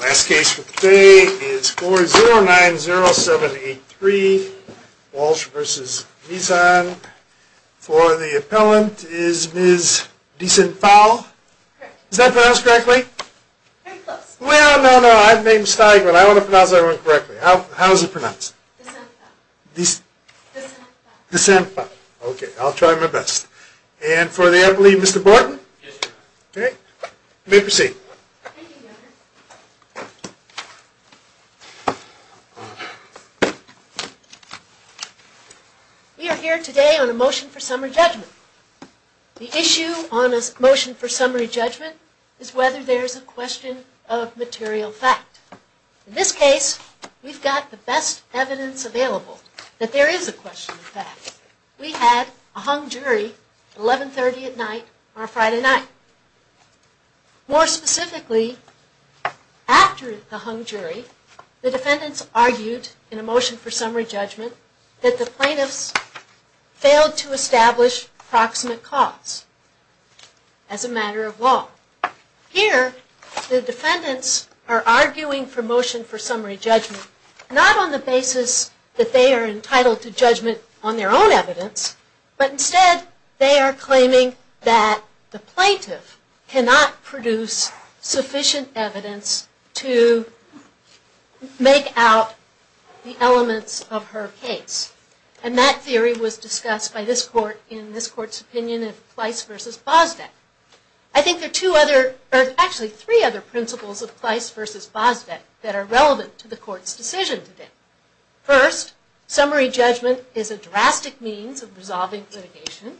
Last case for today is 4090783, Walsh v. Mizan. For the appellant, is Ms. Desenphao? Correct. Is that pronounced correctly? Very close. Well, no, no, I've made a mistake, but I want to pronounce everyone correctly. How is it pronounced? Desenphao. Desen... Desenphao. Desenphao. Okay, I'll try my best. And for the advocate, Mr. Borton? Yes, sir. Okay, you may proceed. Thank you, Governor. We are here today on a motion for summary judgment. The issue on a motion for summary judgment is whether there's a question of material fact. In this case, we've got the best evidence available that there is a question of fact. We had a hung jury at 1130 at night on a Friday night. More specifically, after the hung jury, the defendants argued in a motion for summary judgment that the plaintiffs failed to establish proximate cause as a matter of law. Here, the defendants are arguing for motion for summary judgment, not on the basis that they are entitled to judgment on their own evidence, but instead they are claiming that the plaintiff cannot produce sufficient evidence to make out the elements of her case. And that theory was discussed by this court in this court's opinion in Plice v. Bosdeck. I think there are two other, or actually three other principles of Plice v. Bosdeck that are relevant to the court's decision today. First, summary judgment is a drastic means of resolving litigation.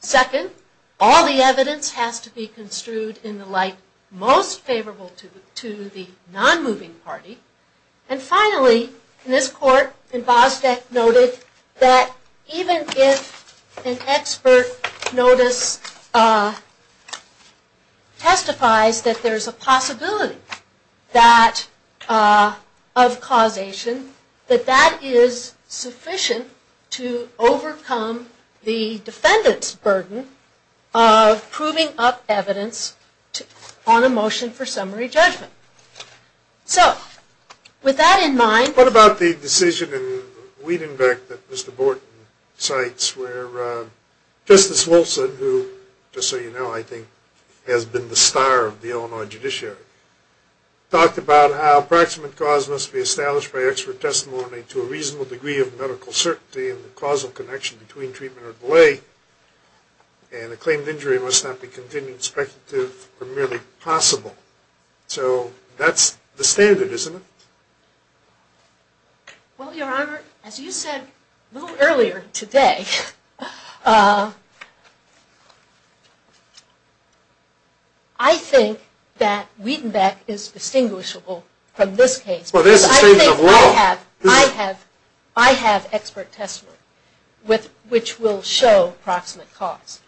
Second, all the evidence has to be construed in the light most favorable to the non-moving party. And finally, this court in Bosdeck noted that even if an expert notice testifies that there is a possibility of causation, that that is sufficient to overcome the defendant's burden of proving up evidence on a motion for summary judgment. So, with that in mind... What about the decision in Wiedenbeck that Mr. Borton cites where Justice Wilson, who, just so you know, I think has been the star of the Illinois judiciary, talked about how approximate cause must be established by expert testimony to a reasonable degree of medical certainty in the causal connection between treatment or delay, and a claimed injury must not be continued, speculative, or merely possible. So, that's the standard, isn't it? Well, Your Honor, as you said a little earlier today, I think that Wiedenbeck is distinguishable from this case because I think I have expert testimony which will show approximate cause.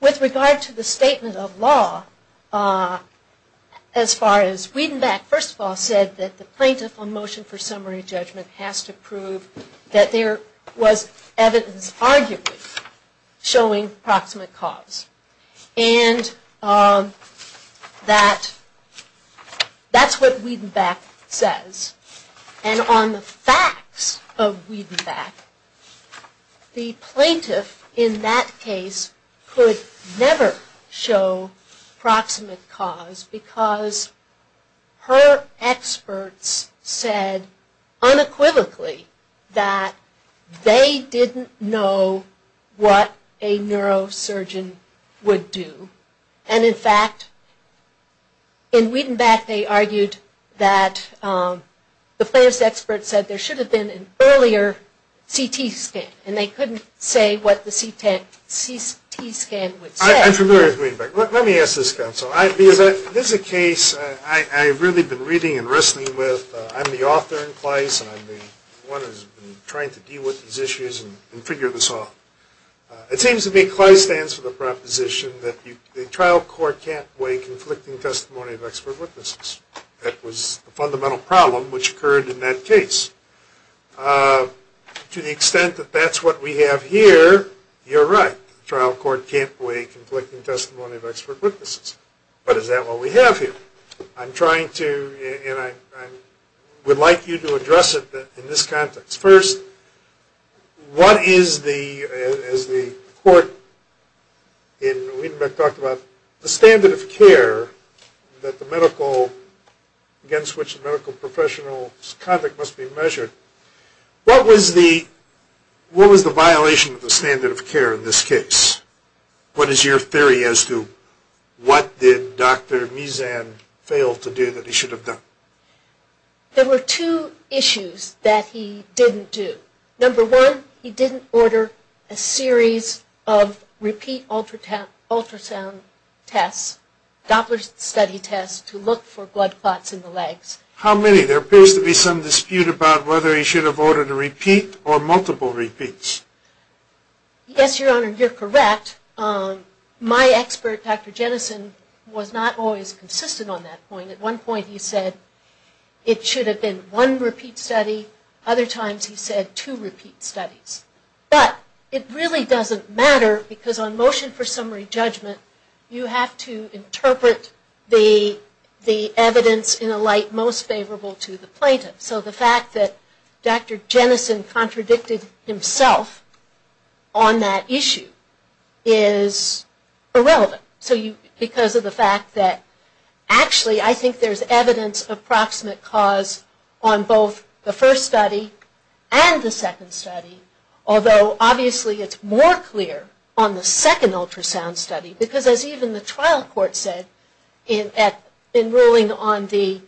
With regard to the statement of law, as far as Wiedenbeck first of all said that the plaintiff on motion for summary judgment has to prove that there was evidence arguably showing proximate cause. And that's what Wiedenbeck says. And on the facts of Wiedenbeck, the plaintiff in that case could never show proximate cause because her experts said unequivocally that they didn't know what a neurosurgeon would do. And in fact, in Wiedenbeck they argued that the plaintiff's experts said there should have been an earlier CT scan, and they couldn't say what the CT scan would say. I'm familiar with Wiedenbeck. Let me ask this counsel. This is a case I've really been reading and wrestling with. I'm the author in CLEIS, and I'm the one who's been trying to deal with these issues and figure this off. It seems to me CLEIS stands for the proposition that the trial court can't weigh conflicting testimony of expert witnesses. That was the fundamental problem which occurred in that case. To the extent that that's what we have here, you're right. The trial court can't weigh conflicting testimony of expert witnesses. But is that what we have here? I'm trying to, and I would like you to address it in this context. First, what is the, as the court in Wiedenbeck talked about, the standard of care that the medical, against which the medical professional's conduct must be measured, what was the violation of the standard of care in this case? What is your theory as to what did Dr. Meezan fail to do that he should have done? There were two issues that he didn't do. Number one, he didn't order a series of repeat ultrasound tests, Doppler study tests to look for blood clots in the legs. How many? There appears to be some dispute about whether he should have ordered a repeat or multiple repeats. Yes, Your Honor, you're correct. My expert, Dr. Jennison, was not always consistent on that point. At one point he said it should have been one repeat study. Other times he said two repeat studies. But it really doesn't matter because on motion for summary judgment, you have to interpret the evidence in a light most favorable to the plaintiff. So the fact that Dr. Jennison contradicted himself on that issue is irrelevant. So because of the fact that actually I think there's evidence of proximate cause on both the first study and the second study, although obviously it's more clear on the second ultrasound study because as even the trial court said in ruling on the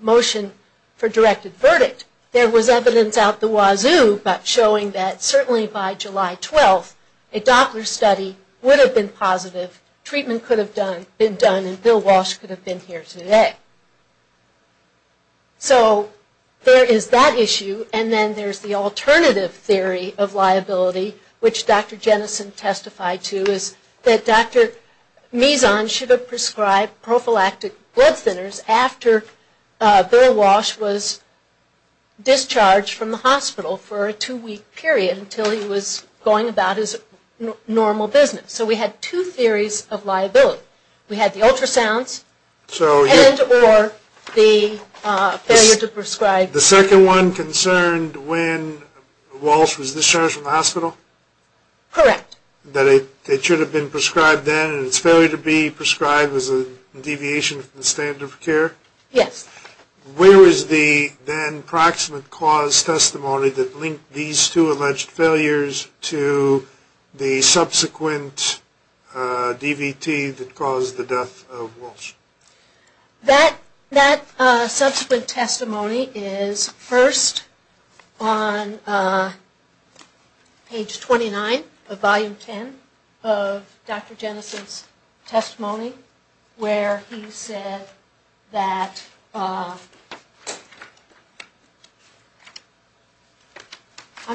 motion for directed verdict, there was evidence out the wazoo about showing that certainly by July 12th, a Doppler study would have been positive, treatment could have been done, and Bill Walsh could have been here today. So there is that issue, and then there's the alternative theory of liability, which Dr. Jennison testified to is that Dr. Mizon should have prescribed prophylactic blood thinners after Bill Walsh was discharged from the hospital for a two-week period until he was going about his normal business. So we had two theories of liability. We had the ultrasounds and or the failure to prescribe. The second one concerned when Walsh was discharged from the hospital? Correct. That it should have been prescribed then and its failure to be prescribed was a deviation from the standard of care? Yes. Where is the then proximate cause testimony that linked these two alleged failures to the subsequent DVT that caused the death of Walsh? That subsequent testimony is first on page 29 of volume 10 of Dr. Jennison's testimony where he said that, I'm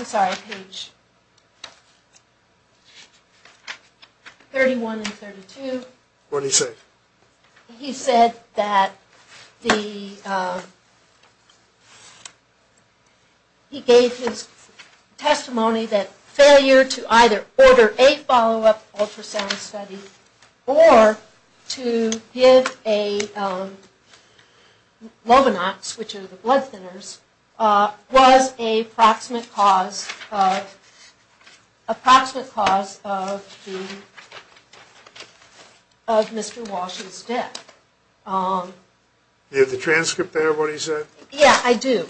sorry, page 31 and 32. What did he say? He said that he gave his testimony that failure to either order a follow-up ultrasound study or to give a Lovenox, which are the blood thinners, was a proximate cause of Mr. Walsh's death. Do you have the transcript there of what he said? Yes, I do.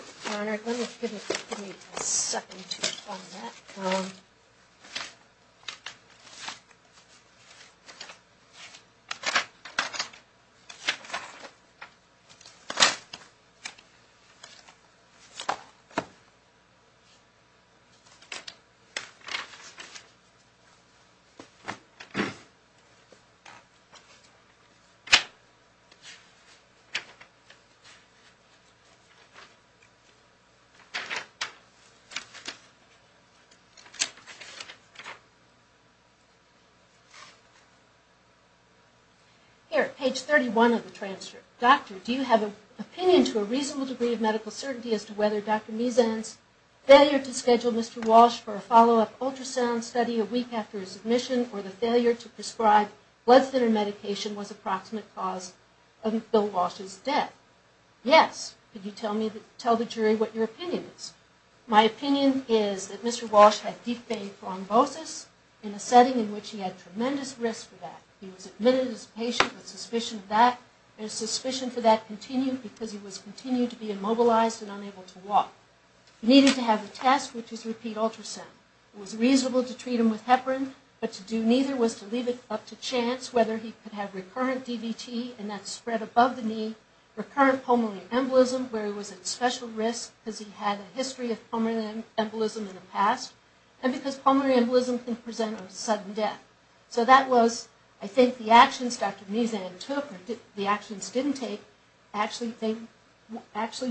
Here, page 31 of the transcript. Doctor, do you have an opinion to a reasonable degree of medical certainty as to whether Dr. Meezan's failure to schedule Mr. Walsh for a follow-up ultrasound study a week after his admission or the failure to prescribe blood thinner medication was a proximate cause of Bill Walsh's death? Yes. Could you do that? Yes. I'm going to ask you to tell the jury what your opinion is. My opinion is that Mr. Walsh had deep vein thrombosis in a setting in which he had tremendous risk for that. He was admitted as a patient with suspicion of that. His suspicion for that continued because he was continuing to be immobilized and unable to walk. He needed to have the test, which is repeat ultrasound. It was reasonable to treat him with heparin, but to do neither was to leave it up to chance whether he could have recurrent DVT, and that's spread above the knee, recurrent pulmonary embolism, where he was at special risk because he had a history of pulmonary embolism in the past, and because pulmonary embolism can present a sudden death. So that was, I think, the actions Dr. Meezan took. The actions he didn't take actually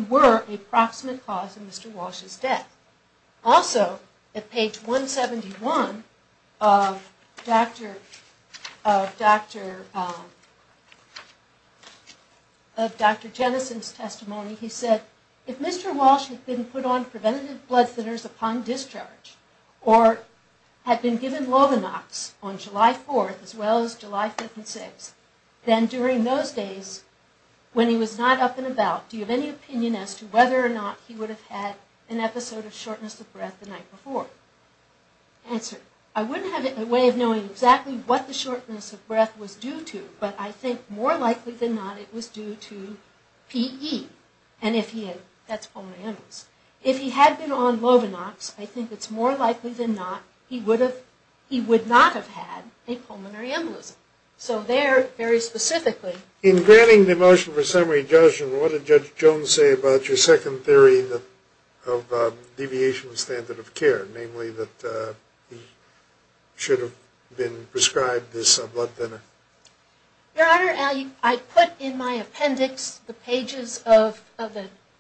were a proximate cause of Mr. Walsh's death. Also, at page 171 of Dr. Jennison's testimony, he said, if Mr. Walsh had been put on preventative blood thinners upon discharge or had been given Lovinox on July 4th as well as July 5th and 6th, then during those days when he was not up and about, do you have any opinion as to whether or not he would have had an episode of shortness of breath the night before? Answer, I wouldn't have a way of knowing exactly what the shortness of breath was due to, but I think more likely than not it was due to PE, and if he had, that's pulmonary embolism. If he had been on Lovinox, I think it's more likely than not he would not have had a pulmonary embolism. So there, very specifically... What did Judge Jones say about your second theory of deviation of standard of care, namely that he should have been prescribed this blood thinner? Your Honor, I put in my appendix the pages of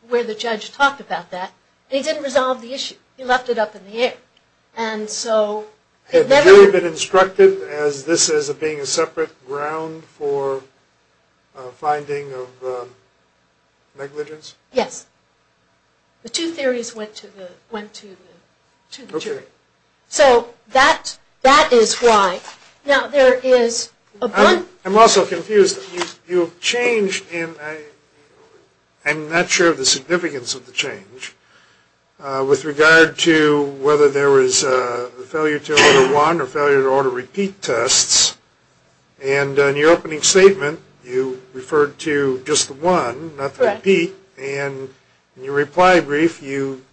where the judge talked about that, and he didn't resolve the issue. He left it up in the air. Had the jury been instructed as this as being a separate ground for finding of negligence? Yes. The two theories went to the jury. So that is why. Now there is... I'm also confused. You've changed, and I'm not sure of the significance of the change, with regard to whether there was a failure to order one or failure to order repeat tests, and in your opening statement you referred to just the one, not the repeat, and in your reply brief you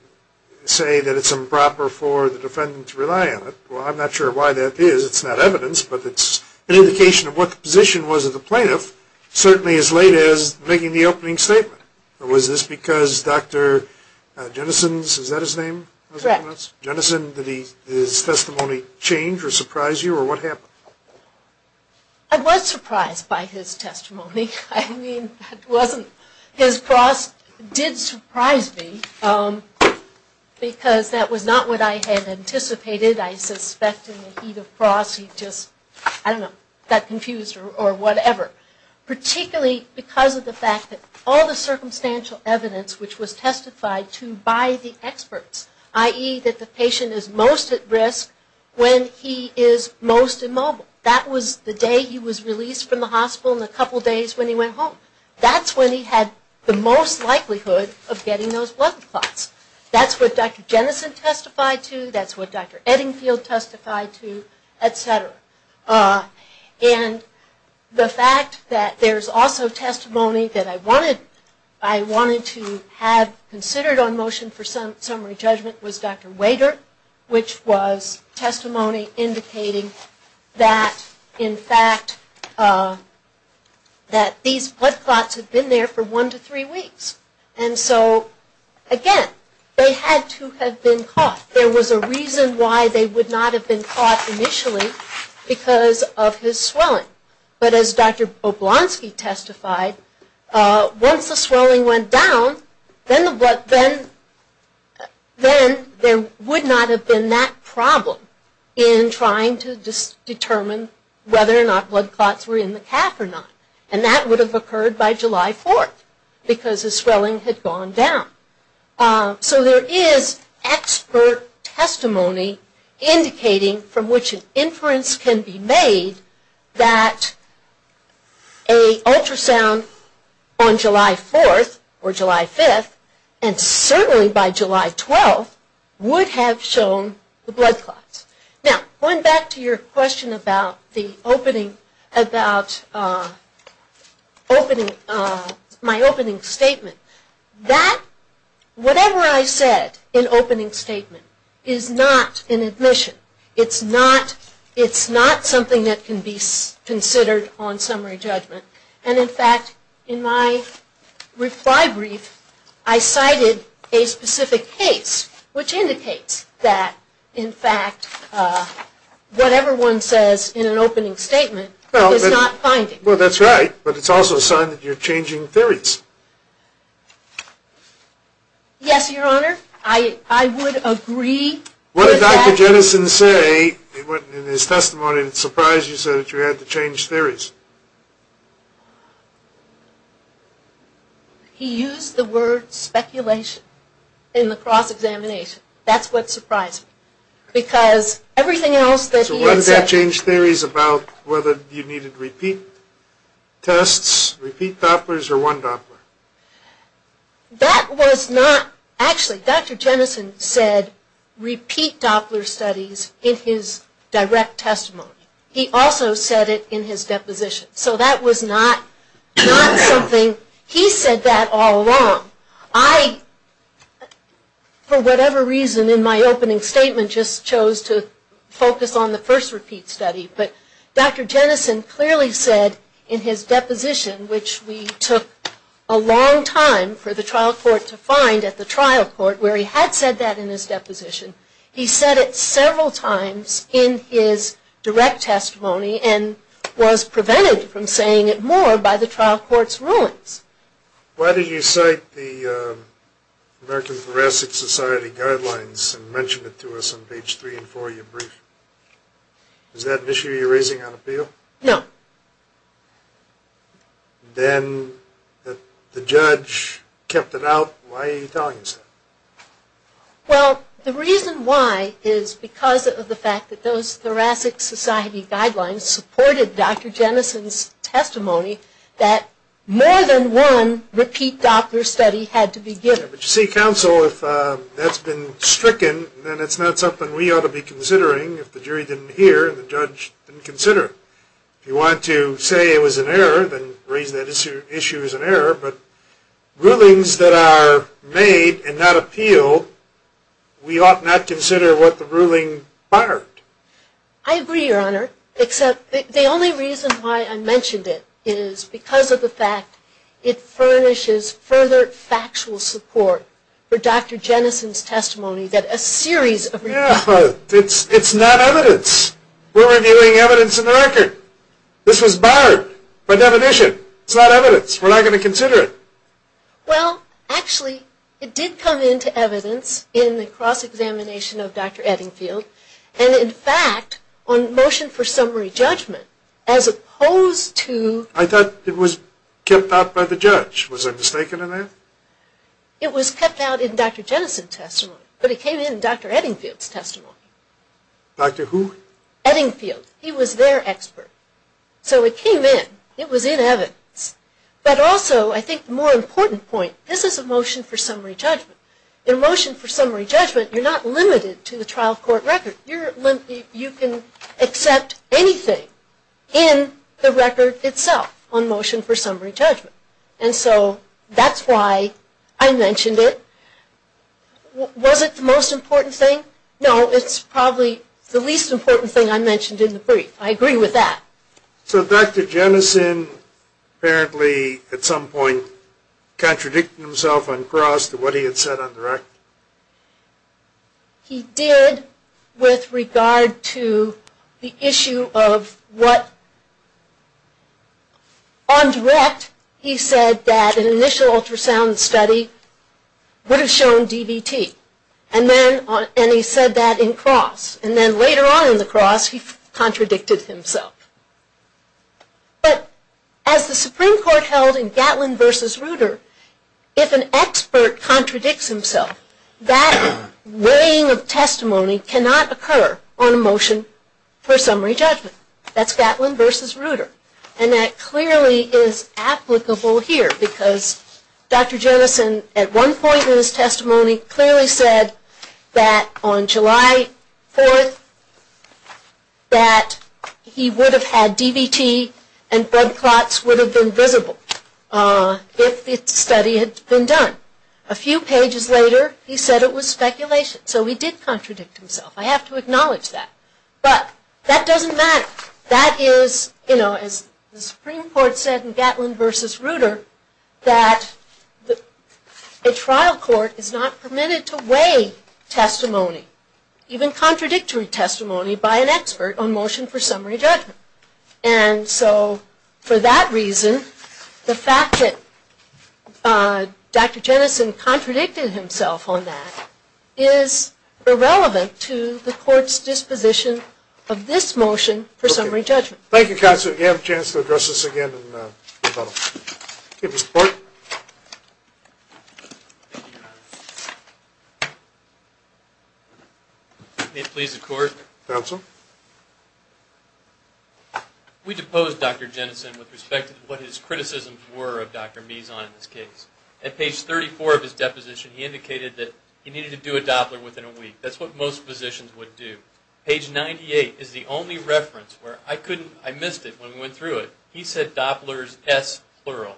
say that it's improper for the defendant to rely on it. Well, I'm not sure why that is. It's not evidence, but it's an indication of what the position was of the plaintiff, certainly as late as making the opening statement. Was this because Dr. Jennison's, is that his name? Correct. Jennison, did his testimony change or surprise you, or what happened? I was surprised by his testimony. I mean, it wasn't... His cross did surprise me because that was not what I had anticipated. I suspect in the heat of cross he just, I don't know, got confused or whatever, particularly because of the fact that all the circumstantial evidence which was testified to by the experts, i.e. that the patient is most at risk when he is most immobile. That was the day he was released from the hospital and a couple days when he went home. That's when he had the most likelihood of getting those blood clots. That's what Dr. Jennison testified to, that's what Dr. Eddingfield testified to, etc. And the fact that there's also testimony that I wanted to have considered on motion for summary judgment was Dr. Wader, which was testimony indicating that, in fact, that these blood clots had been there for one to three weeks. And so, again, they had to have been caught. There was a reason why they would not have been caught initially because of his swelling. But as Dr. Oblonsky testified, once the swelling went down, then there would not have been that problem in trying to determine whether or not blood clots were in the calf or not. And that would have occurred by July 4th because his swelling had gone down. So there is expert testimony indicating from which an inference can be made that an ultrasound on July 4th or July 5th and certainly by July 12th would have shown the blood clots. Now, going back to your question about my opening statement. That, whatever I said in opening statement, is not an admission. It's not something that can be considered on summary judgment. And, in fact, in my reply brief, I cited a specific case, which indicates that, in fact, whatever one says in an opening statement is not finding. Well, that's right, but it's also a sign that you're changing theories. Yes, Your Honor. I would agree with that. What did Dr. Jennison say in his testimony that surprised you so that you had to change theories? He used the word speculation in the cross-examination. That's what surprised me because everything else that he had said. So why did that change theories about whether you needed repeat tests, repeat Dopplers, or one Doppler? That was not, actually, Dr. Jennison said repeat Doppler studies in his direct testimony. He also said it in his deposition. So that was not something, he said that all along. I, for whatever reason in my opening statement, just chose to focus on the first repeat study. But Dr. Jennison clearly said in his deposition, which we took a long time for the trial court to find at the trial court, where he had said that in his deposition, he said it several times in his direct testimony and was prevented from saying it more by the trial court's rulings. Why did you cite the American Thoracic Society guidelines and mention it to us on page 3 and 4 of your brief? Is that an issue you're raising on appeal? No. Then the judge kept it out. Why are you telling us that? Well, the reason why is because of the fact that those Thoracic Society guidelines supported Dr. Jennison's testimony that more than one repeat Doppler study had to be given. But you see, counsel, if that's been stricken, then it's not something we ought to be considering if the jury didn't hear and the judge didn't consider it. If you want to say it was an error, then raise that issue as an error. But rulings that are made and not appealed, we ought not consider what the ruling barred. I agree, Your Honor, except the only reason why I mentioned it is because of the fact that it furnishes further factual support for Dr. Jennison's testimony that a series of... It's not evidence. We're reviewing evidence in the record. This was barred by definition. It's not evidence. We're not going to consider it. Well, actually, it did come into evidence in the cross-examination of Dr. Eddingfield and in fact on motion for summary judgment as opposed to... I thought it was kept out by the judge. Was I mistaken in that? It was kept out in Dr. Jennison's testimony, but it came in Dr. Eddingfield's testimony. Dr. who? Eddingfield. He was their expert. So it came in. It was in evidence. But also, I think the more important point, this is a motion for summary judgment. In a motion for summary judgment, you're not limited to the trial court record. You can accept anything in the record itself on motion for summary judgment. And so that's why I mentioned it. Was it the most important thing? No, it's probably the least important thing I mentioned in the brief. I agree with that. So Dr. Jennison apparently at some point contradicted himself on cross to what he had said on the record? He did with regard to the issue of what... On direct, he said that an initial ultrasound study would have shown DVT. And he said that in cross. And then later on in the cross, he contradicted himself. But as the Supreme Court held in Gatlin v. Reuter, if an expert contradicts himself, that weighing of testimony cannot occur on a motion for summary judgment. That's Gatlin v. Reuter. And that clearly is applicable here because Dr. Jennison at one point in his testimony clearly said that on July 4th that he would have had DVT and blood clots would have been visible if the study had been done. A few pages later, he said it was speculation. So he did contradict himself. I have to acknowledge that. But that doesn't matter. That is, you know, as the Supreme Court said in Gatlin v. Reuter, that a trial court is not permitted to weigh testimony, even contradictory testimony by an expert on motion for summary judgment. And so for that reason, the fact that Dr. Jennison contradicted himself on that is irrelevant to the court's disposition of this motion for summary judgment. Thank you, Counsel. You have a chance to address this again in the panel. Thank you, Mr. Clark. May it please the Court. Counsel. We deposed Dr. Jennison with respect to what his criticisms were of Dr. Mizon in this case. At page 34 of his deposition, he indicated that he needed to do a Doppler within a week. That's what most physicians would do. Page 98 is the only reference where I missed it when we went through it. He said Doppler is S-plural.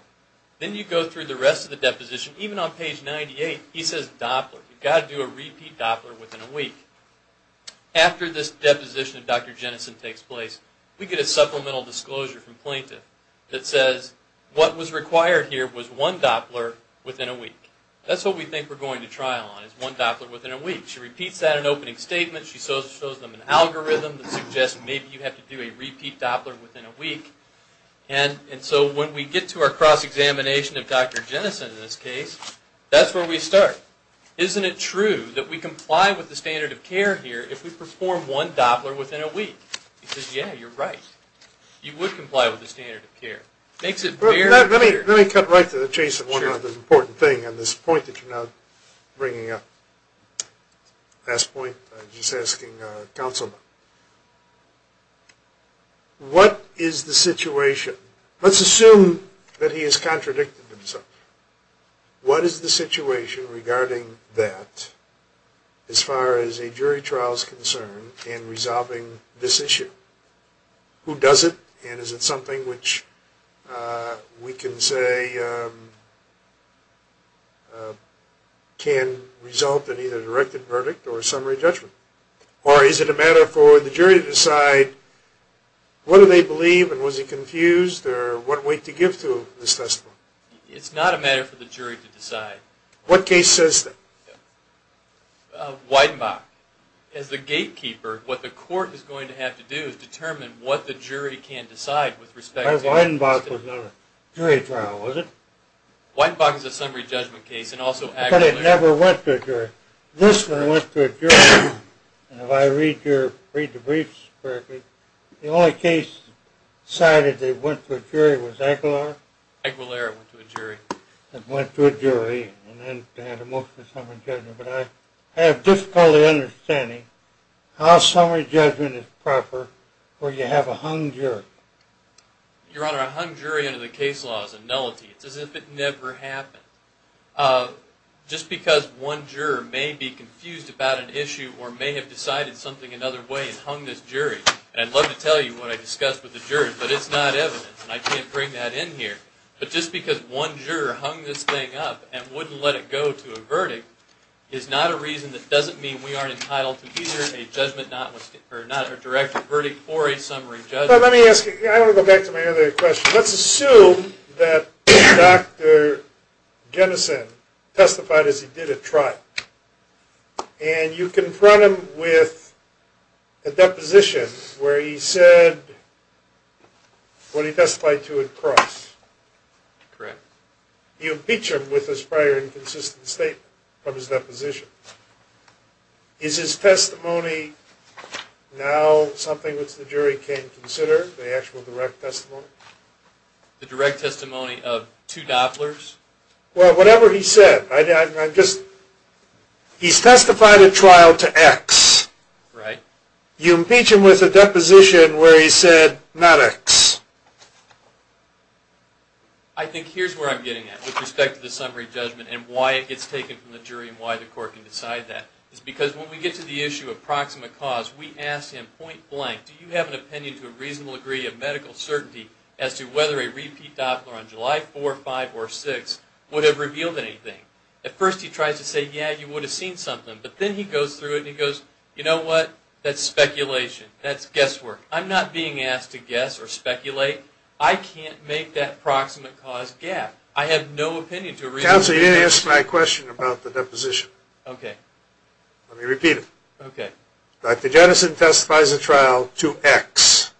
Then you go through the rest of the deposition. Even on page 98, he says Doppler. You've got to do a repeat Doppler within a week. After this deposition of Dr. Jennison takes place, we get a supplemental disclosure from plaintiff that says, what was required here was one Doppler within a week. That's what we think we're going to trial on is one Doppler within a week. She repeats that in opening statements. She shows them an algorithm that suggests maybe you have to do a repeat Doppler within a week. When we get to our cross-examination of Dr. Jennison in this case, that's where we start. Isn't it true that we comply with the standard of care here if we perform one Doppler within a week? He says, yeah, you're right. You would comply with the standard of care. Let me cut right to the chase of one other important thing on this point that you're now bringing up. Last point, I'm just asking counsel, what is the situation? Let's assume that he has contradicted himself. What is the situation regarding that as far as a jury trial is concerned in resolving this issue? Who does it, and is it something which we can say can result in either a directed verdict or a summary judgment? Or is it a matter for the jury to decide what do they believe, and was he confused, or what weight to give to this testimony? It's not a matter for the jury to decide. What case says that? Weidenbach. Weidenbach. As the gatekeeper, what the court is going to have to do is determine what the jury can decide with respect to that. Weidenbach was not a jury trial, was it? Weidenbach is a summary judgment case, and also Aguilera. But it never went to a jury. This one went to a jury, and if I read the briefs correctly, the only case cited that went to a jury was Aguilera? Aguilera went to a jury. It went to a jury, and then they had a motion of summary judgment. But I have difficulty understanding how summary judgment is proper where you have a hung jury. Your Honor, a hung jury under the case law is a nullity. It's as if it never happened. Just because one juror may be confused about an issue or may have decided something another way and hung this jury, and I'd love to tell you what I discussed with the jury, but it's not evidence, and I can't bring that in here. But just because one juror hung this thing up and wouldn't let it go to a verdict is not a reason that doesn't mean we aren't entitled to either a judgment or not a direct verdict for a summary judgment. Let me ask you, I want to go back to my other question. Let's assume that Dr. Jennison testified as he did at trial, and you confront him with a deposition where he said what he testified to at cross. Correct. You impeach him with his prior inconsistent statement from his deposition. Is his testimony now something which the jury can consider, the actual direct testimony? The direct testimony of two dopplers? Well, whatever he said. He's testified at trial to X. Right. You impeach him with a deposition where he said not X. I think here's where I'm getting at with respect to the summary judgment and why it gets taken from the jury and why the court can decide that. It's because when we get to the issue of proximate cause, we ask him point blank, do you have an opinion to a reasonable degree of medical certainty as to whether a repeat doppler on July 4, 5, or 6 would have revealed anything? At first he tries to say, yeah, you would have seen something, but then he goes through it and he goes, you know what? That's speculation. That's guesswork. I'm not being asked to guess or speculate. I can't make that proximate cause gap. I have no opinion to a reasonable degree. Counselor, you didn't answer my question about the deposition. Okay. Let me repeat it. Okay. Dr. Jennison testifies at trial to X,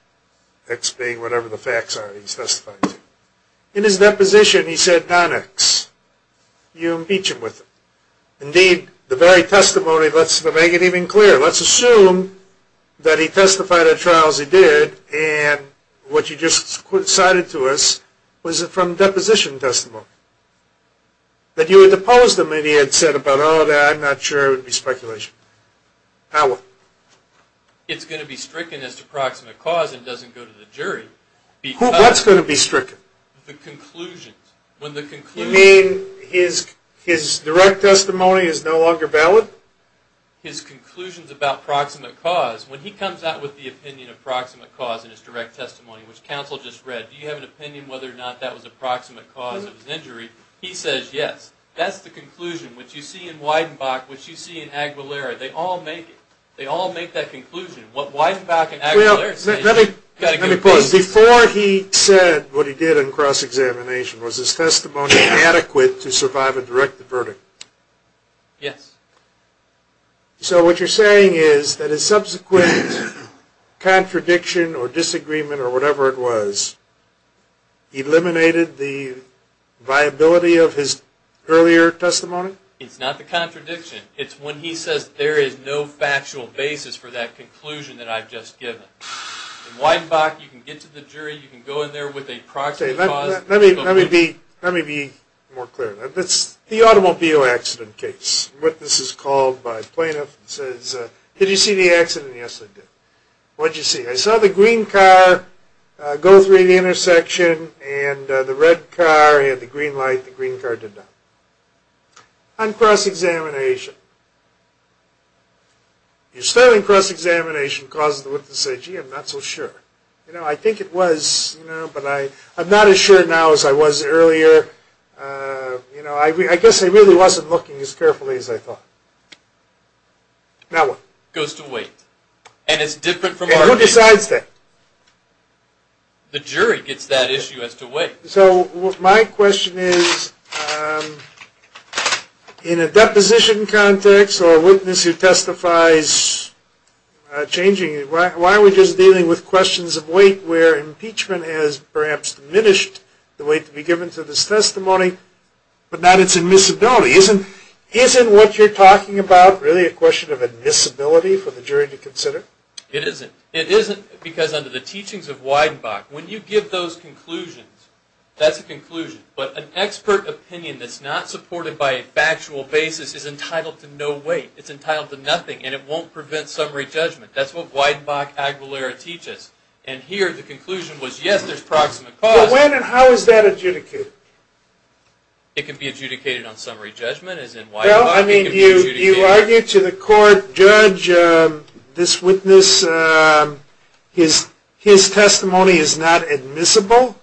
X being whatever the facts are he's testifying to. In his deposition he said non-X. You impeach him with it. Indeed, the very testimony, let's make it even clearer, let's assume that he testified at trial as he did and what you just cited to us was from deposition testimony, that you had deposed him and he had said about, oh, I'm not sure, it would be speculation. How? It's going to be stricken as to proximate cause and doesn't go to the jury. What's going to be stricken? The conclusions. You mean his direct testimony is no longer valid? His conclusions about proximate cause, when he comes out with the opinion of proximate cause in his direct testimony, which counsel just read, do you have an opinion whether or not that was a proximate cause of his injury, he says yes. That's the conclusion, which you see in Weidenbach, which you see in Aguilera. They all make it. They all make that conclusion, what Weidenbach and Aguilera say. Let me pause. Before he said what he did in cross-examination, was his testimony adequate to survive a direct verdict? Yes. So what you're saying is that his subsequent contradiction or disagreement or whatever it was eliminated the viability of his earlier testimony? It's not the contradiction. It's when he says there is no factual basis for that conclusion that I've just given. In Weidenbach, you can get to the jury. You can go in there with a proximate cause. Let me be more clear. That's the automobile accident case, what this is called by plaintiffs. It says, did you see the accident? Yes, I did. What did you see? I saw the green car go through the intersection, and the red car had the green light. The green car did not. On cross-examination. You're starting cross-examination because of the witnesses say, gee, I'm not so sure. You know, I think it was, you know, but I'm not as sure now as I was earlier. You know, I guess I really wasn't looking as carefully as I thought. Now what? Goes to wait. And it's different from our case. Who decides that? The jury gets that issue as to wait. So my question is, in a deposition context or a witness who testifies changing, why are we just dealing with questions of wait where impeachment has perhaps diminished the wait to be given to this testimony, but not its admissibility? Isn't what you're talking about really a question of admissibility for the jury to consider? It isn't. It isn't because under the teachings of Weidenbach, when you give those conclusions, that's a conclusion. But an expert opinion that's not supported by a factual basis is entitled to no wait. It's entitled to nothing, and it won't prevent summary judgment. That's what Weidenbach Aguilera teaches. And here the conclusion was, yes, there's proximate cause. But when and how is that adjudicated? It can be adjudicated on summary judgment, as in Weidenbach. Well, I mean, do you argue to the court, judge, this witness, his testimony is not admissible?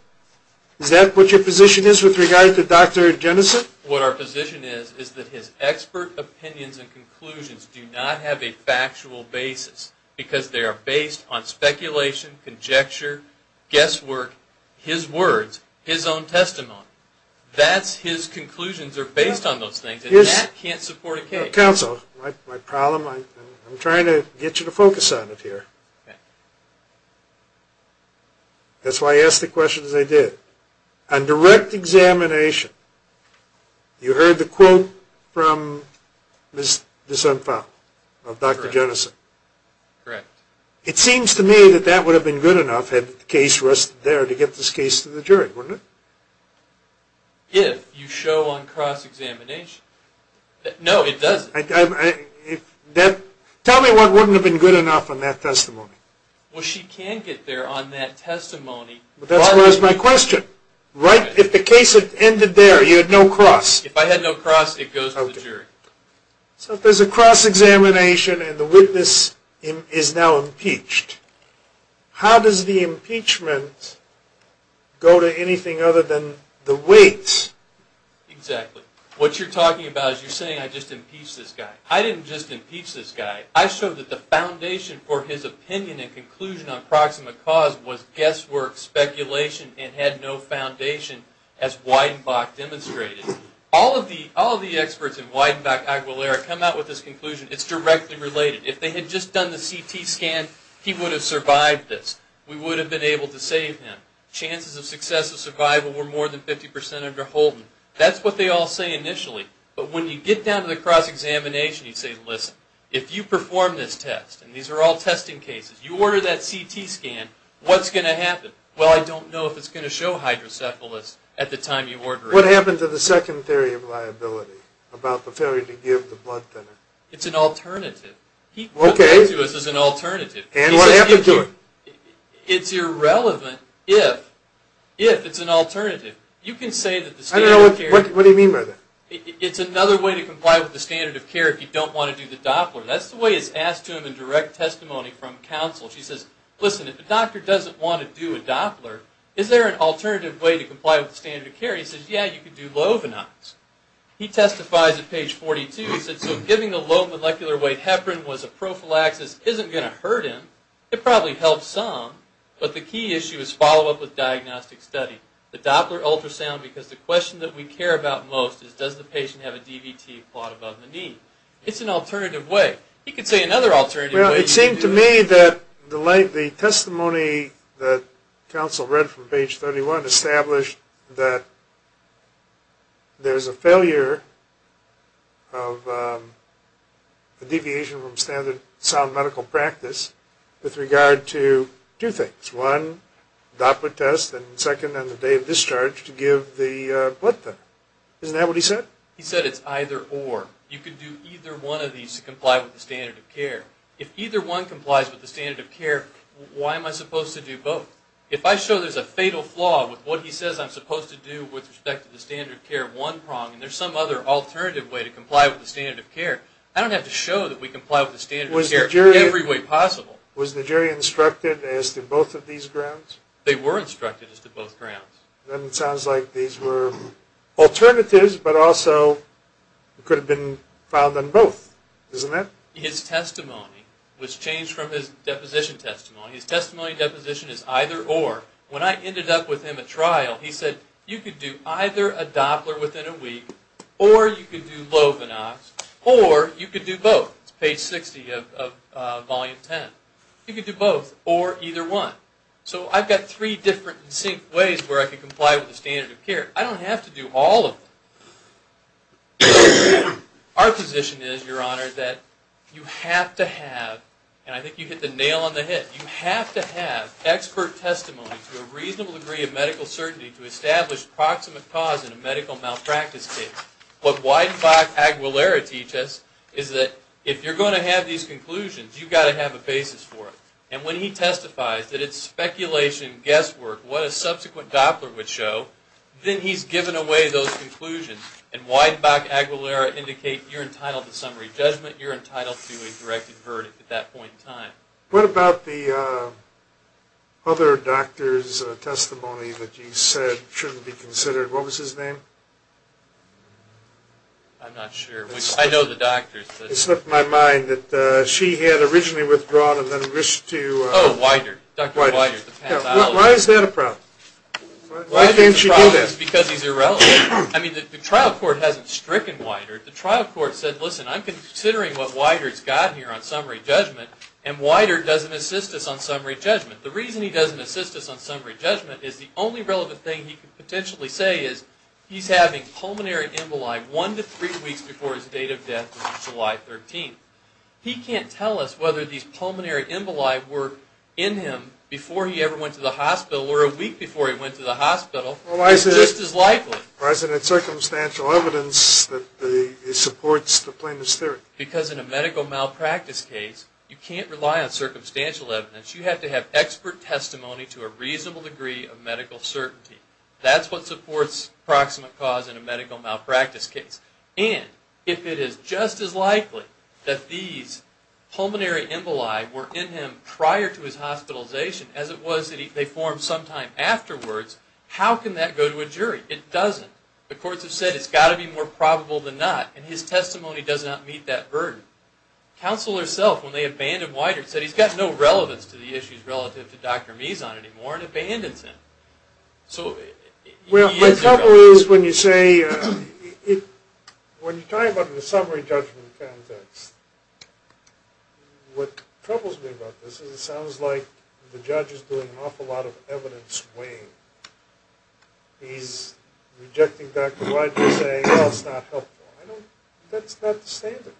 Is that what your position is with regard to Dr. Jenison? What our position is is that his expert opinions and conclusions do not have a factual basis because they are based on speculation, conjecture, guesswork, his words, his own testimony. His conclusions are based on those things, and that can't support a case. Counsel, my problem, I'm trying to get you to focus on it here. That's why I asked the questions I did. On direct examination, you heard the quote from Ms. D'Souza of Dr. Jenison. Correct. It seems to me that that would have been good enough, had the case rested there, to get this case to the jury, wouldn't it? If you show on cross-examination. No, it doesn't. Tell me what wouldn't have been good enough on that testimony. Well, she can't get there on that testimony. That's my question. If the case ended there, you had no cross. If I had no cross, it goes to the jury. So if there's a cross-examination and the witness is now impeached, how does the impeachment go to anything other than the weight? Exactly. What you're talking about is you're saying I just impeached this guy. I didn't just impeach this guy. I showed that the foundation for his opinion and conclusion on proximate cause was guesswork, speculation, and had no foundation, as Weidenbach demonstrated. All of the experts in Weidenbach-Aguilera come out with this conclusion. It's directly related. If they had just done the CT scan, he would have survived this. We would have been able to save him. Chances of successive survival were more than 50% under Holden. That's what they all say initially. But when you get down to the cross-examination, you say, listen, if you perform this test, and these are all testing cases, you order that CT scan, what's going to happen? Well, I don't know if it's going to show hydrocephalus at the time you order it. What happened to the second theory of liability about the failure to give the blood thinner? It's an alternative. Okay. He comes up to us as an alternative. And what happened to it? It's irrelevant if it's an alternative. You can say that the standard of care... What do you mean by that? It's another way to comply with the standard of care if you don't want to do the Doppler. That's the way it's asked to him in direct testimony from counsel. She says, listen, if a doctor doesn't want to do a Doppler, is there an alternative way to comply with the standard of care? He says, yeah, you could do lovinase. He testifies at page 42. He says, so giving a low molecular weight heparin was a prophylaxis isn't going to hurt him. It probably helps some. But the key issue is follow-up with diagnostic study. The Doppler ultrasound, because the question that we care about most is, does the patient have a DVT plot above the knee? It's an alternative way. He could say another alternative way. Well, it seemed to me that the testimony that counsel read from page 31 established that there's a failure of the deviation from standard sound medical practice with regard to two things. It's one, Doppler test, and second on the day of discharge to give the blood test. Isn't that what he said? He said it's either or. You could do either one of these to comply with the standard of care. If either one complies with the standard of care, why am I supposed to do both? If I show there's a fatal flaw with what he says I'm supposed to do with respect to the standard of care one prong and there's some other alternative way to comply with the standard of care, I don't have to show that we comply with the standard of care every way possible. Was the jury instructed as to both of these grounds? They were instructed as to both grounds. Then it sounds like these were alternatives but also could have been filed on both. Isn't that? His testimony was changed from his deposition testimony. His testimony deposition is either or. When I ended up with him at trial, he said you could do either a Doppler within a week or you could do lovinox or you could do both. It's page 60 of volume 10. You could do both or either one. So I've got three different ways where I can comply with the standard of care. I don't have to do all of them. Our position is, Your Honor, that you have to have, and I think you hit the nail on the head, you have to have expert testimony to a reasonable degree of medical certainty to establish proximate cause in a medical malpractice case. What Weidenbach-Aguilera teaches is that if you're going to have these conclusions, you've got to have a basis for it. And when he testifies that it's speculation, guesswork, what a subsequent Doppler would show, then he's given away those conclusions. And Weidenbach-Aguilera indicates you're entitled to summary judgment, you're entitled to a directed verdict at that point in time. What about the other doctor's testimony that you said shouldn't be considered? What was his name? I'm not sure. I know the doctor's. It slipped my mind that she had originally withdrawn and then wished to... Oh, Weider, Dr. Weider. Why is that a problem? Why can't she do that? It's because he's irrelevant. I mean, the trial court hasn't stricken Weider. The trial court said, listen, I'm considering what Weider's got here on summary judgment, and Weider doesn't assist us on summary judgment. The reason he doesn't assist us on summary judgment is the only relevant thing he could potentially say is he's having pulmonary emboli one to three weeks before his date of death on July 13th. He can't tell us whether these pulmonary emboli were in him before he ever went to the hospital or a week before he went to the hospital. It's just as likely. Well, why is it in circumstantial evidence that it supports the plaintiff's theory? Because in a medical malpractice case, you can't rely on circumstantial evidence. You have to have expert testimony to a reasonable degree of medical certainty. That's what supports proximate cause in a medical malpractice case. And if it is just as likely that these pulmonary emboli were in him prior to his hospitalization as it was that they formed sometime afterwards, how can that go to a jury? It doesn't. The courts have said it's got to be more probable than not, and his testimony does not meet that burden. Counsel herself, when they abandoned Weider, said he's got no relevance to the issues relative to Dr. Mizon anymore and abandons him. Well, my trouble is when you say, when you talk about the summary judgment context, what troubles me about this is it sounds like the judge is doing an awful lot of evidence weighing. He's rejecting Dr. Weider, saying, well, it's not helpful. That's not the standard.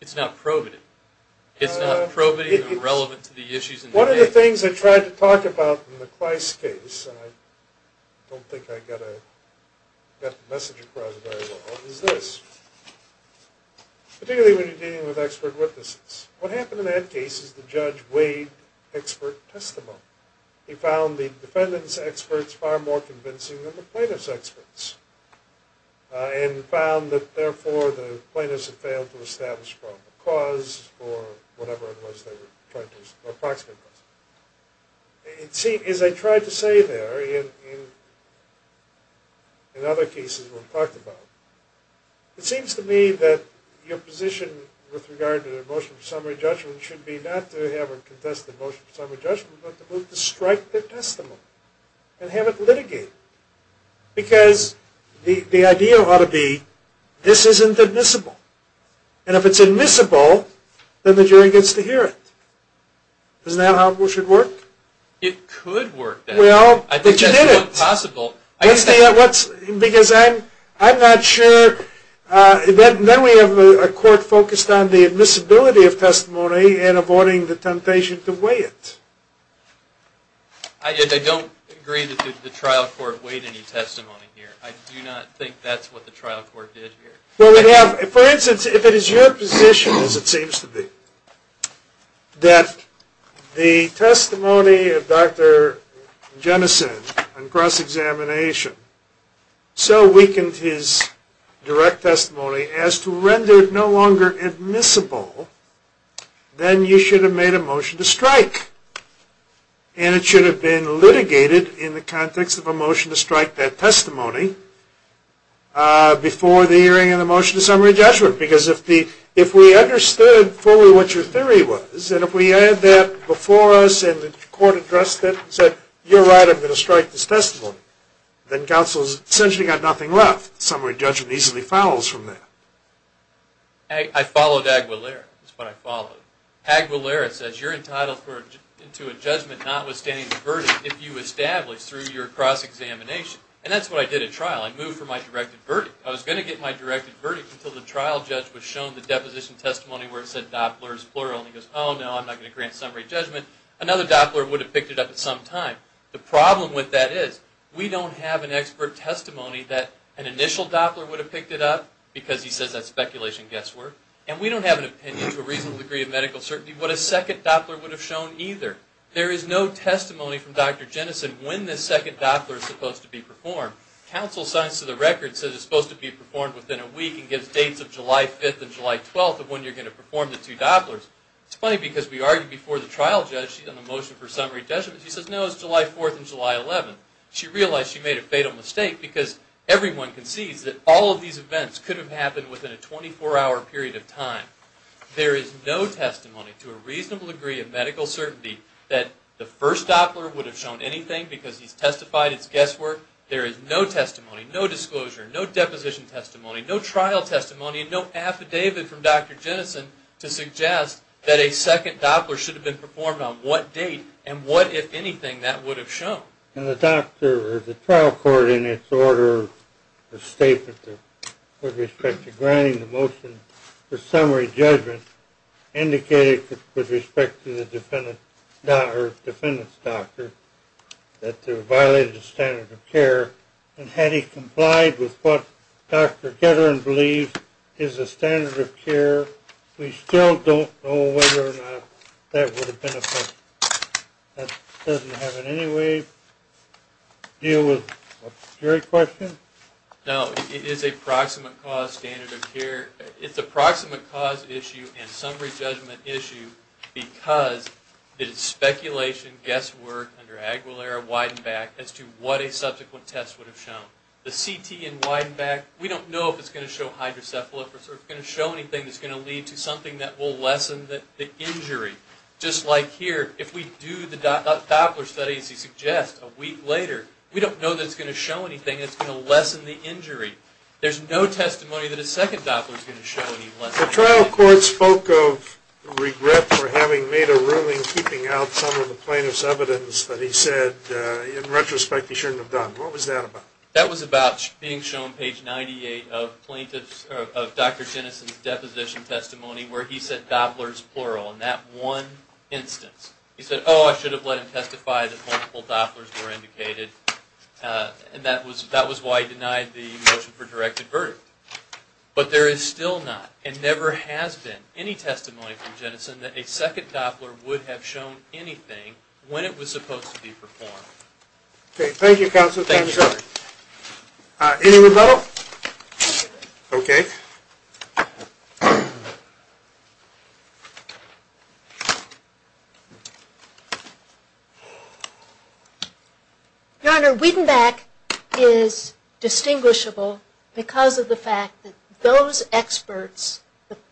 It's not probative. It's not probative or relevant to the issues in the case. One of the things I tried to talk about in the Kleist case, and I don't think I got the message across very well, is this. Particularly when you're dealing with expert witnesses. What happened in that case is the judge weighed expert testimony. He found the defendant's experts far more convincing than the plaintiff's experts and found that, therefore, the plaintiffs had failed to establish a probable cause for whatever it was they were trying to approximate. As I tried to say there, in other cases we've talked about, it seems to me that your position with regard to the motion of summary judgment should be not to have a contested motion of summary judgment, but to strike the testimony and have it litigated. Because the idea ought to be this isn't admissible. And if it's admissible, then the jury gets to hear it. Isn't that how it should work? It could work that way. Well, but you didn't. I think that's not possible. Because I'm not sure. Then we have a court focused on the admissibility of testimony and avoiding the temptation to weigh it. I don't agree that the trial court weighed any testimony here. I do not think that's what the trial court did here. For instance, if it is your position, as it seems to be, that the testimony of Dr. Jenison on cross-examination so weakened his direct testimony as to render it no longer admissible, then you should have made a motion to strike. And it should have been litigated in the context of a motion to strike that testimony before the hearing of the motion of summary judgment. Because if we understood fully what your theory was, and if we had that before us and the court addressed it and said, you're right, I'm going to strike this testimony, then counsel has essentially got nothing left. Summary judgment easily follows from that. I followed Aguilera. That's what I followed. Aguilera says you're entitled to a judgment notwithstanding the verdict if you establish through your cross-examination. And that's what I did at trial. I moved from my directed verdict. I was going to get my directed verdict until the trial judge was shown the deposition testimony where it said Doppler is plural. And he goes, oh, no, I'm not going to grant summary judgment. Another Doppler would have picked it up at some time. The problem with that is we don't have an expert testimony that an initial Doppler would have picked it up because he says that's speculation and guesswork. And we don't have an opinion to a reasonable degree of medical certainty what a second Doppler would have shown either. There is no testimony from Dr. Jennison when this second Doppler is supposed to be performed. Counsel signs to the record and says it's supposed to be performed within a week and gives dates of July 5th and July 12th of when you're going to perform the two Dopplers. It's funny because we argued before the trial judge on the motion for summary judgment. She says no, it's July 4th and July 11th. She realized she made a fatal mistake because everyone concedes that all of these events could have happened within a 24-hour period of time. There is no testimony to a reasonable degree of medical certainty that the first Doppler would have shown anything because he's testified it's guesswork. There is no testimony, no disclosure, no deposition testimony, no trial testimony, no affidavit from Dr. Jennison to suggest that a second Doppler should have been performed on what date and what, if anything, that would have shown. And the trial court in its order of statement with respect to granting the motion for summary judgment indicated with respect to the defendant's doctor that they violated the standard of care and had he complied with what Dr. Getterin believes is the standard of care, we still don't know whether or not that would have been effective. That doesn't have in any way to deal with your question? No, it is a proximate cause standard of care. It's a proximate cause issue and summary judgment issue because it is speculation, guesswork, under Aguilera, Weidenbach, as to what a subsequent test would have shown. The CT in Weidenbach, we don't know if it's going to show hydrocephalus or if it's going to show anything that's going to lead to something that will lessen the injury. Just like here, if we do the Doppler study, as you suggest, a week later, we don't know that it's going to show anything that's going to lessen the injury. There's no testimony that a second Doppler is going to show any lessening. The trial court spoke of regret for having made a ruling keeping out some of the plaintiff's evidence that he said, in retrospect, he shouldn't have done. What was that about? That was about being shown page 98 of Dr. Jennison's deposition testimony where he said Doppler's plural in that one instance. He said, oh, I should have let him testify that multiple Dopplers were indicated, and that was why he denied the motion for directed verdict. But there is still not and never has been any testimony from Jennison that a second Doppler would have shown anything when it was supposed to be performed. Okay, thank you, Counselor. Any rebuttal? Okay. Your Honor, Wiedenbach is distinguishable because of the fact that those experts,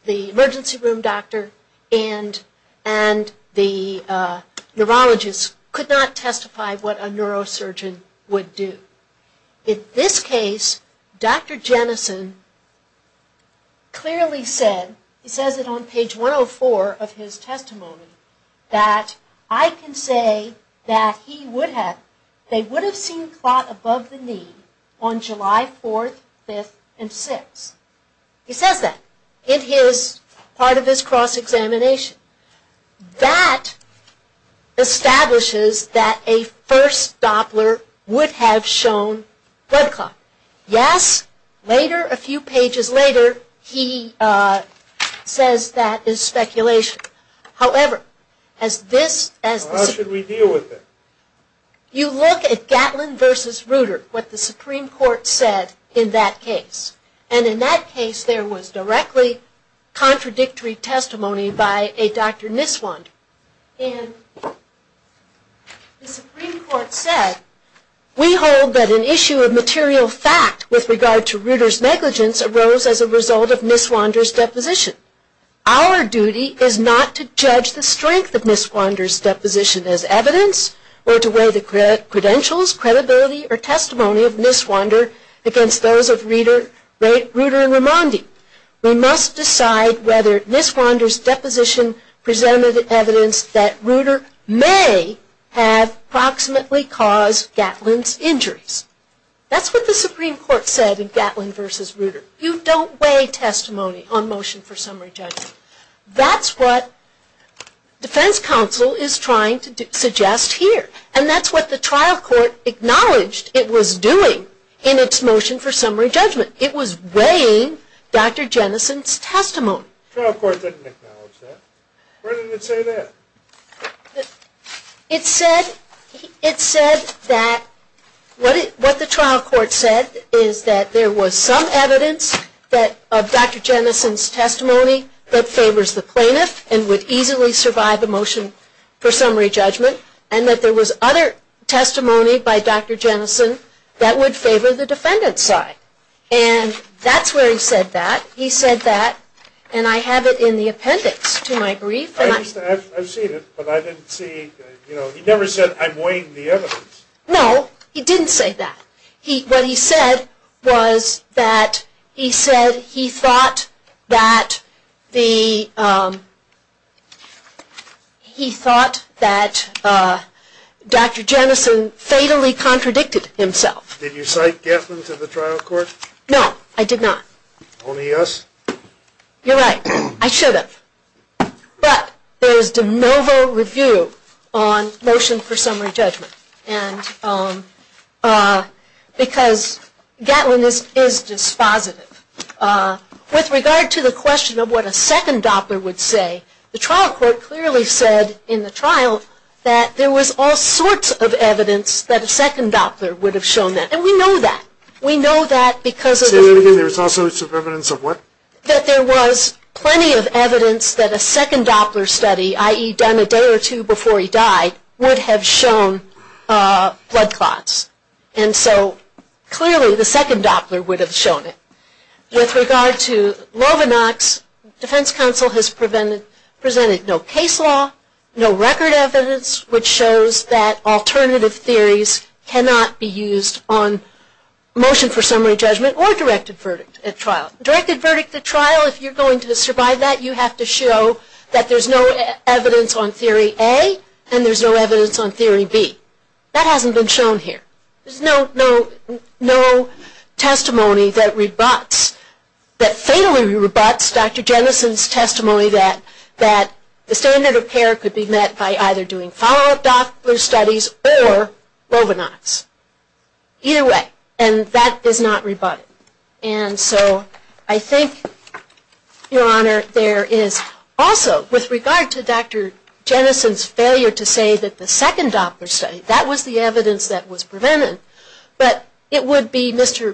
the emergency room doctor and the neurologist, could not testify what a neurosurgeon would do. In this case, Dr. Jennison clearly said, he says it on page 104 of his testimony, that I can say that they would have seen clot above the knee on July 4th, 5th, and 6th. He says that in part of his cross-examination. That establishes that a first Doppler would have shown blood clot. Yes, later, a few pages later, he says that is speculation. However, as this... How should we deal with it? You look at Gatlin v. Ruder, what the Supreme Court said in that case. And in that case, there was directly contradictory testimony by a Dr. Niswander. And the Supreme Court said, we hold that an issue of material fact with regard to Ruder's negligence arose as a result of Niswander's deposition. Our duty is not to judge the strength of Niswander's deposition as evidence, or to weigh the credentials, credibility, or testimony of Niswander against those of Ruder and Raimondi. We must decide whether Niswander's deposition presented evidence that Ruder may have proximately caused Gatlin's injuries. That's what the Supreme Court said in Gatlin v. Ruder. You don't weigh testimony on motion for summary judgment. That's what defense counsel is trying to suggest here. And that's what the trial court acknowledged it was doing in its motion for summary judgment. It was weighing Dr. Jenison's testimony. The trial court didn't acknowledge that. Where did it say that? It said that... What the trial court said is that there was some evidence of Dr. Jenison's testimony that favors the plaintiff and would easily survive the motion for summary judgment, and that there was other testimony by Dr. Jenison that would favor the defendant's side. And that's where he said that. He said that, and I have it in the appendix to my brief. I've seen it, but I didn't see... He never said, I'm weighing the evidence. No, he didn't say that. What he said was that he said he thought that the... He thought that Dr. Jenison fatally contradicted himself. Did you cite Gatlin to the trial court? No, I did not. Only us? You're right. I should have. But there is de novo review on motion for summary judgment. Because Gatlin is dispositive. With regard to the question of what a second Doppler would say, the trial court clearly said in the trial that there was all sorts of evidence that a second Doppler would have shown that. And we know that. We know that because... Say that again. There was all sorts of evidence of what? That there was plenty of evidence that a second Doppler study, i.e. done a day or two before he died, would have shown blood clots. And so clearly the second Doppler would have shown it. With regard to Lovenox, defense counsel has presented no case law, no record evidence, which shows that alternative theories cannot be used on motion for summary judgment or directed verdict at trial. Directed verdict at trial, if you're going to survive that, you have to show that there's no evidence on theory A and there's no evidence on theory B. That hasn't been shown here. There's no testimony that rebuts, that fatally rebuts Dr. Jenison's testimony that the standard of care could be met by either doing follow-up Doppler studies or Lovenox. Either way. And that is not rebutted. And so I think, Your Honor, there is also, with regard to Dr. Jenison's failure to say that the second Doppler study, that was the evidence that was prevented, but it would be Mr.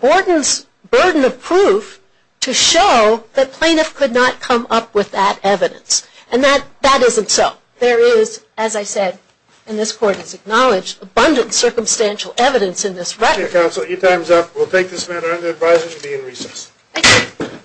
Borden's burden of proof to show that plaintiff could not come up with that evidence. And that isn't so. There is, as I said, and this Court has acknowledged, abundant circumstantial evidence in this record. Thank you, Counsel. Your time is up. We'll take this matter under advisory to be in recess. Thank you.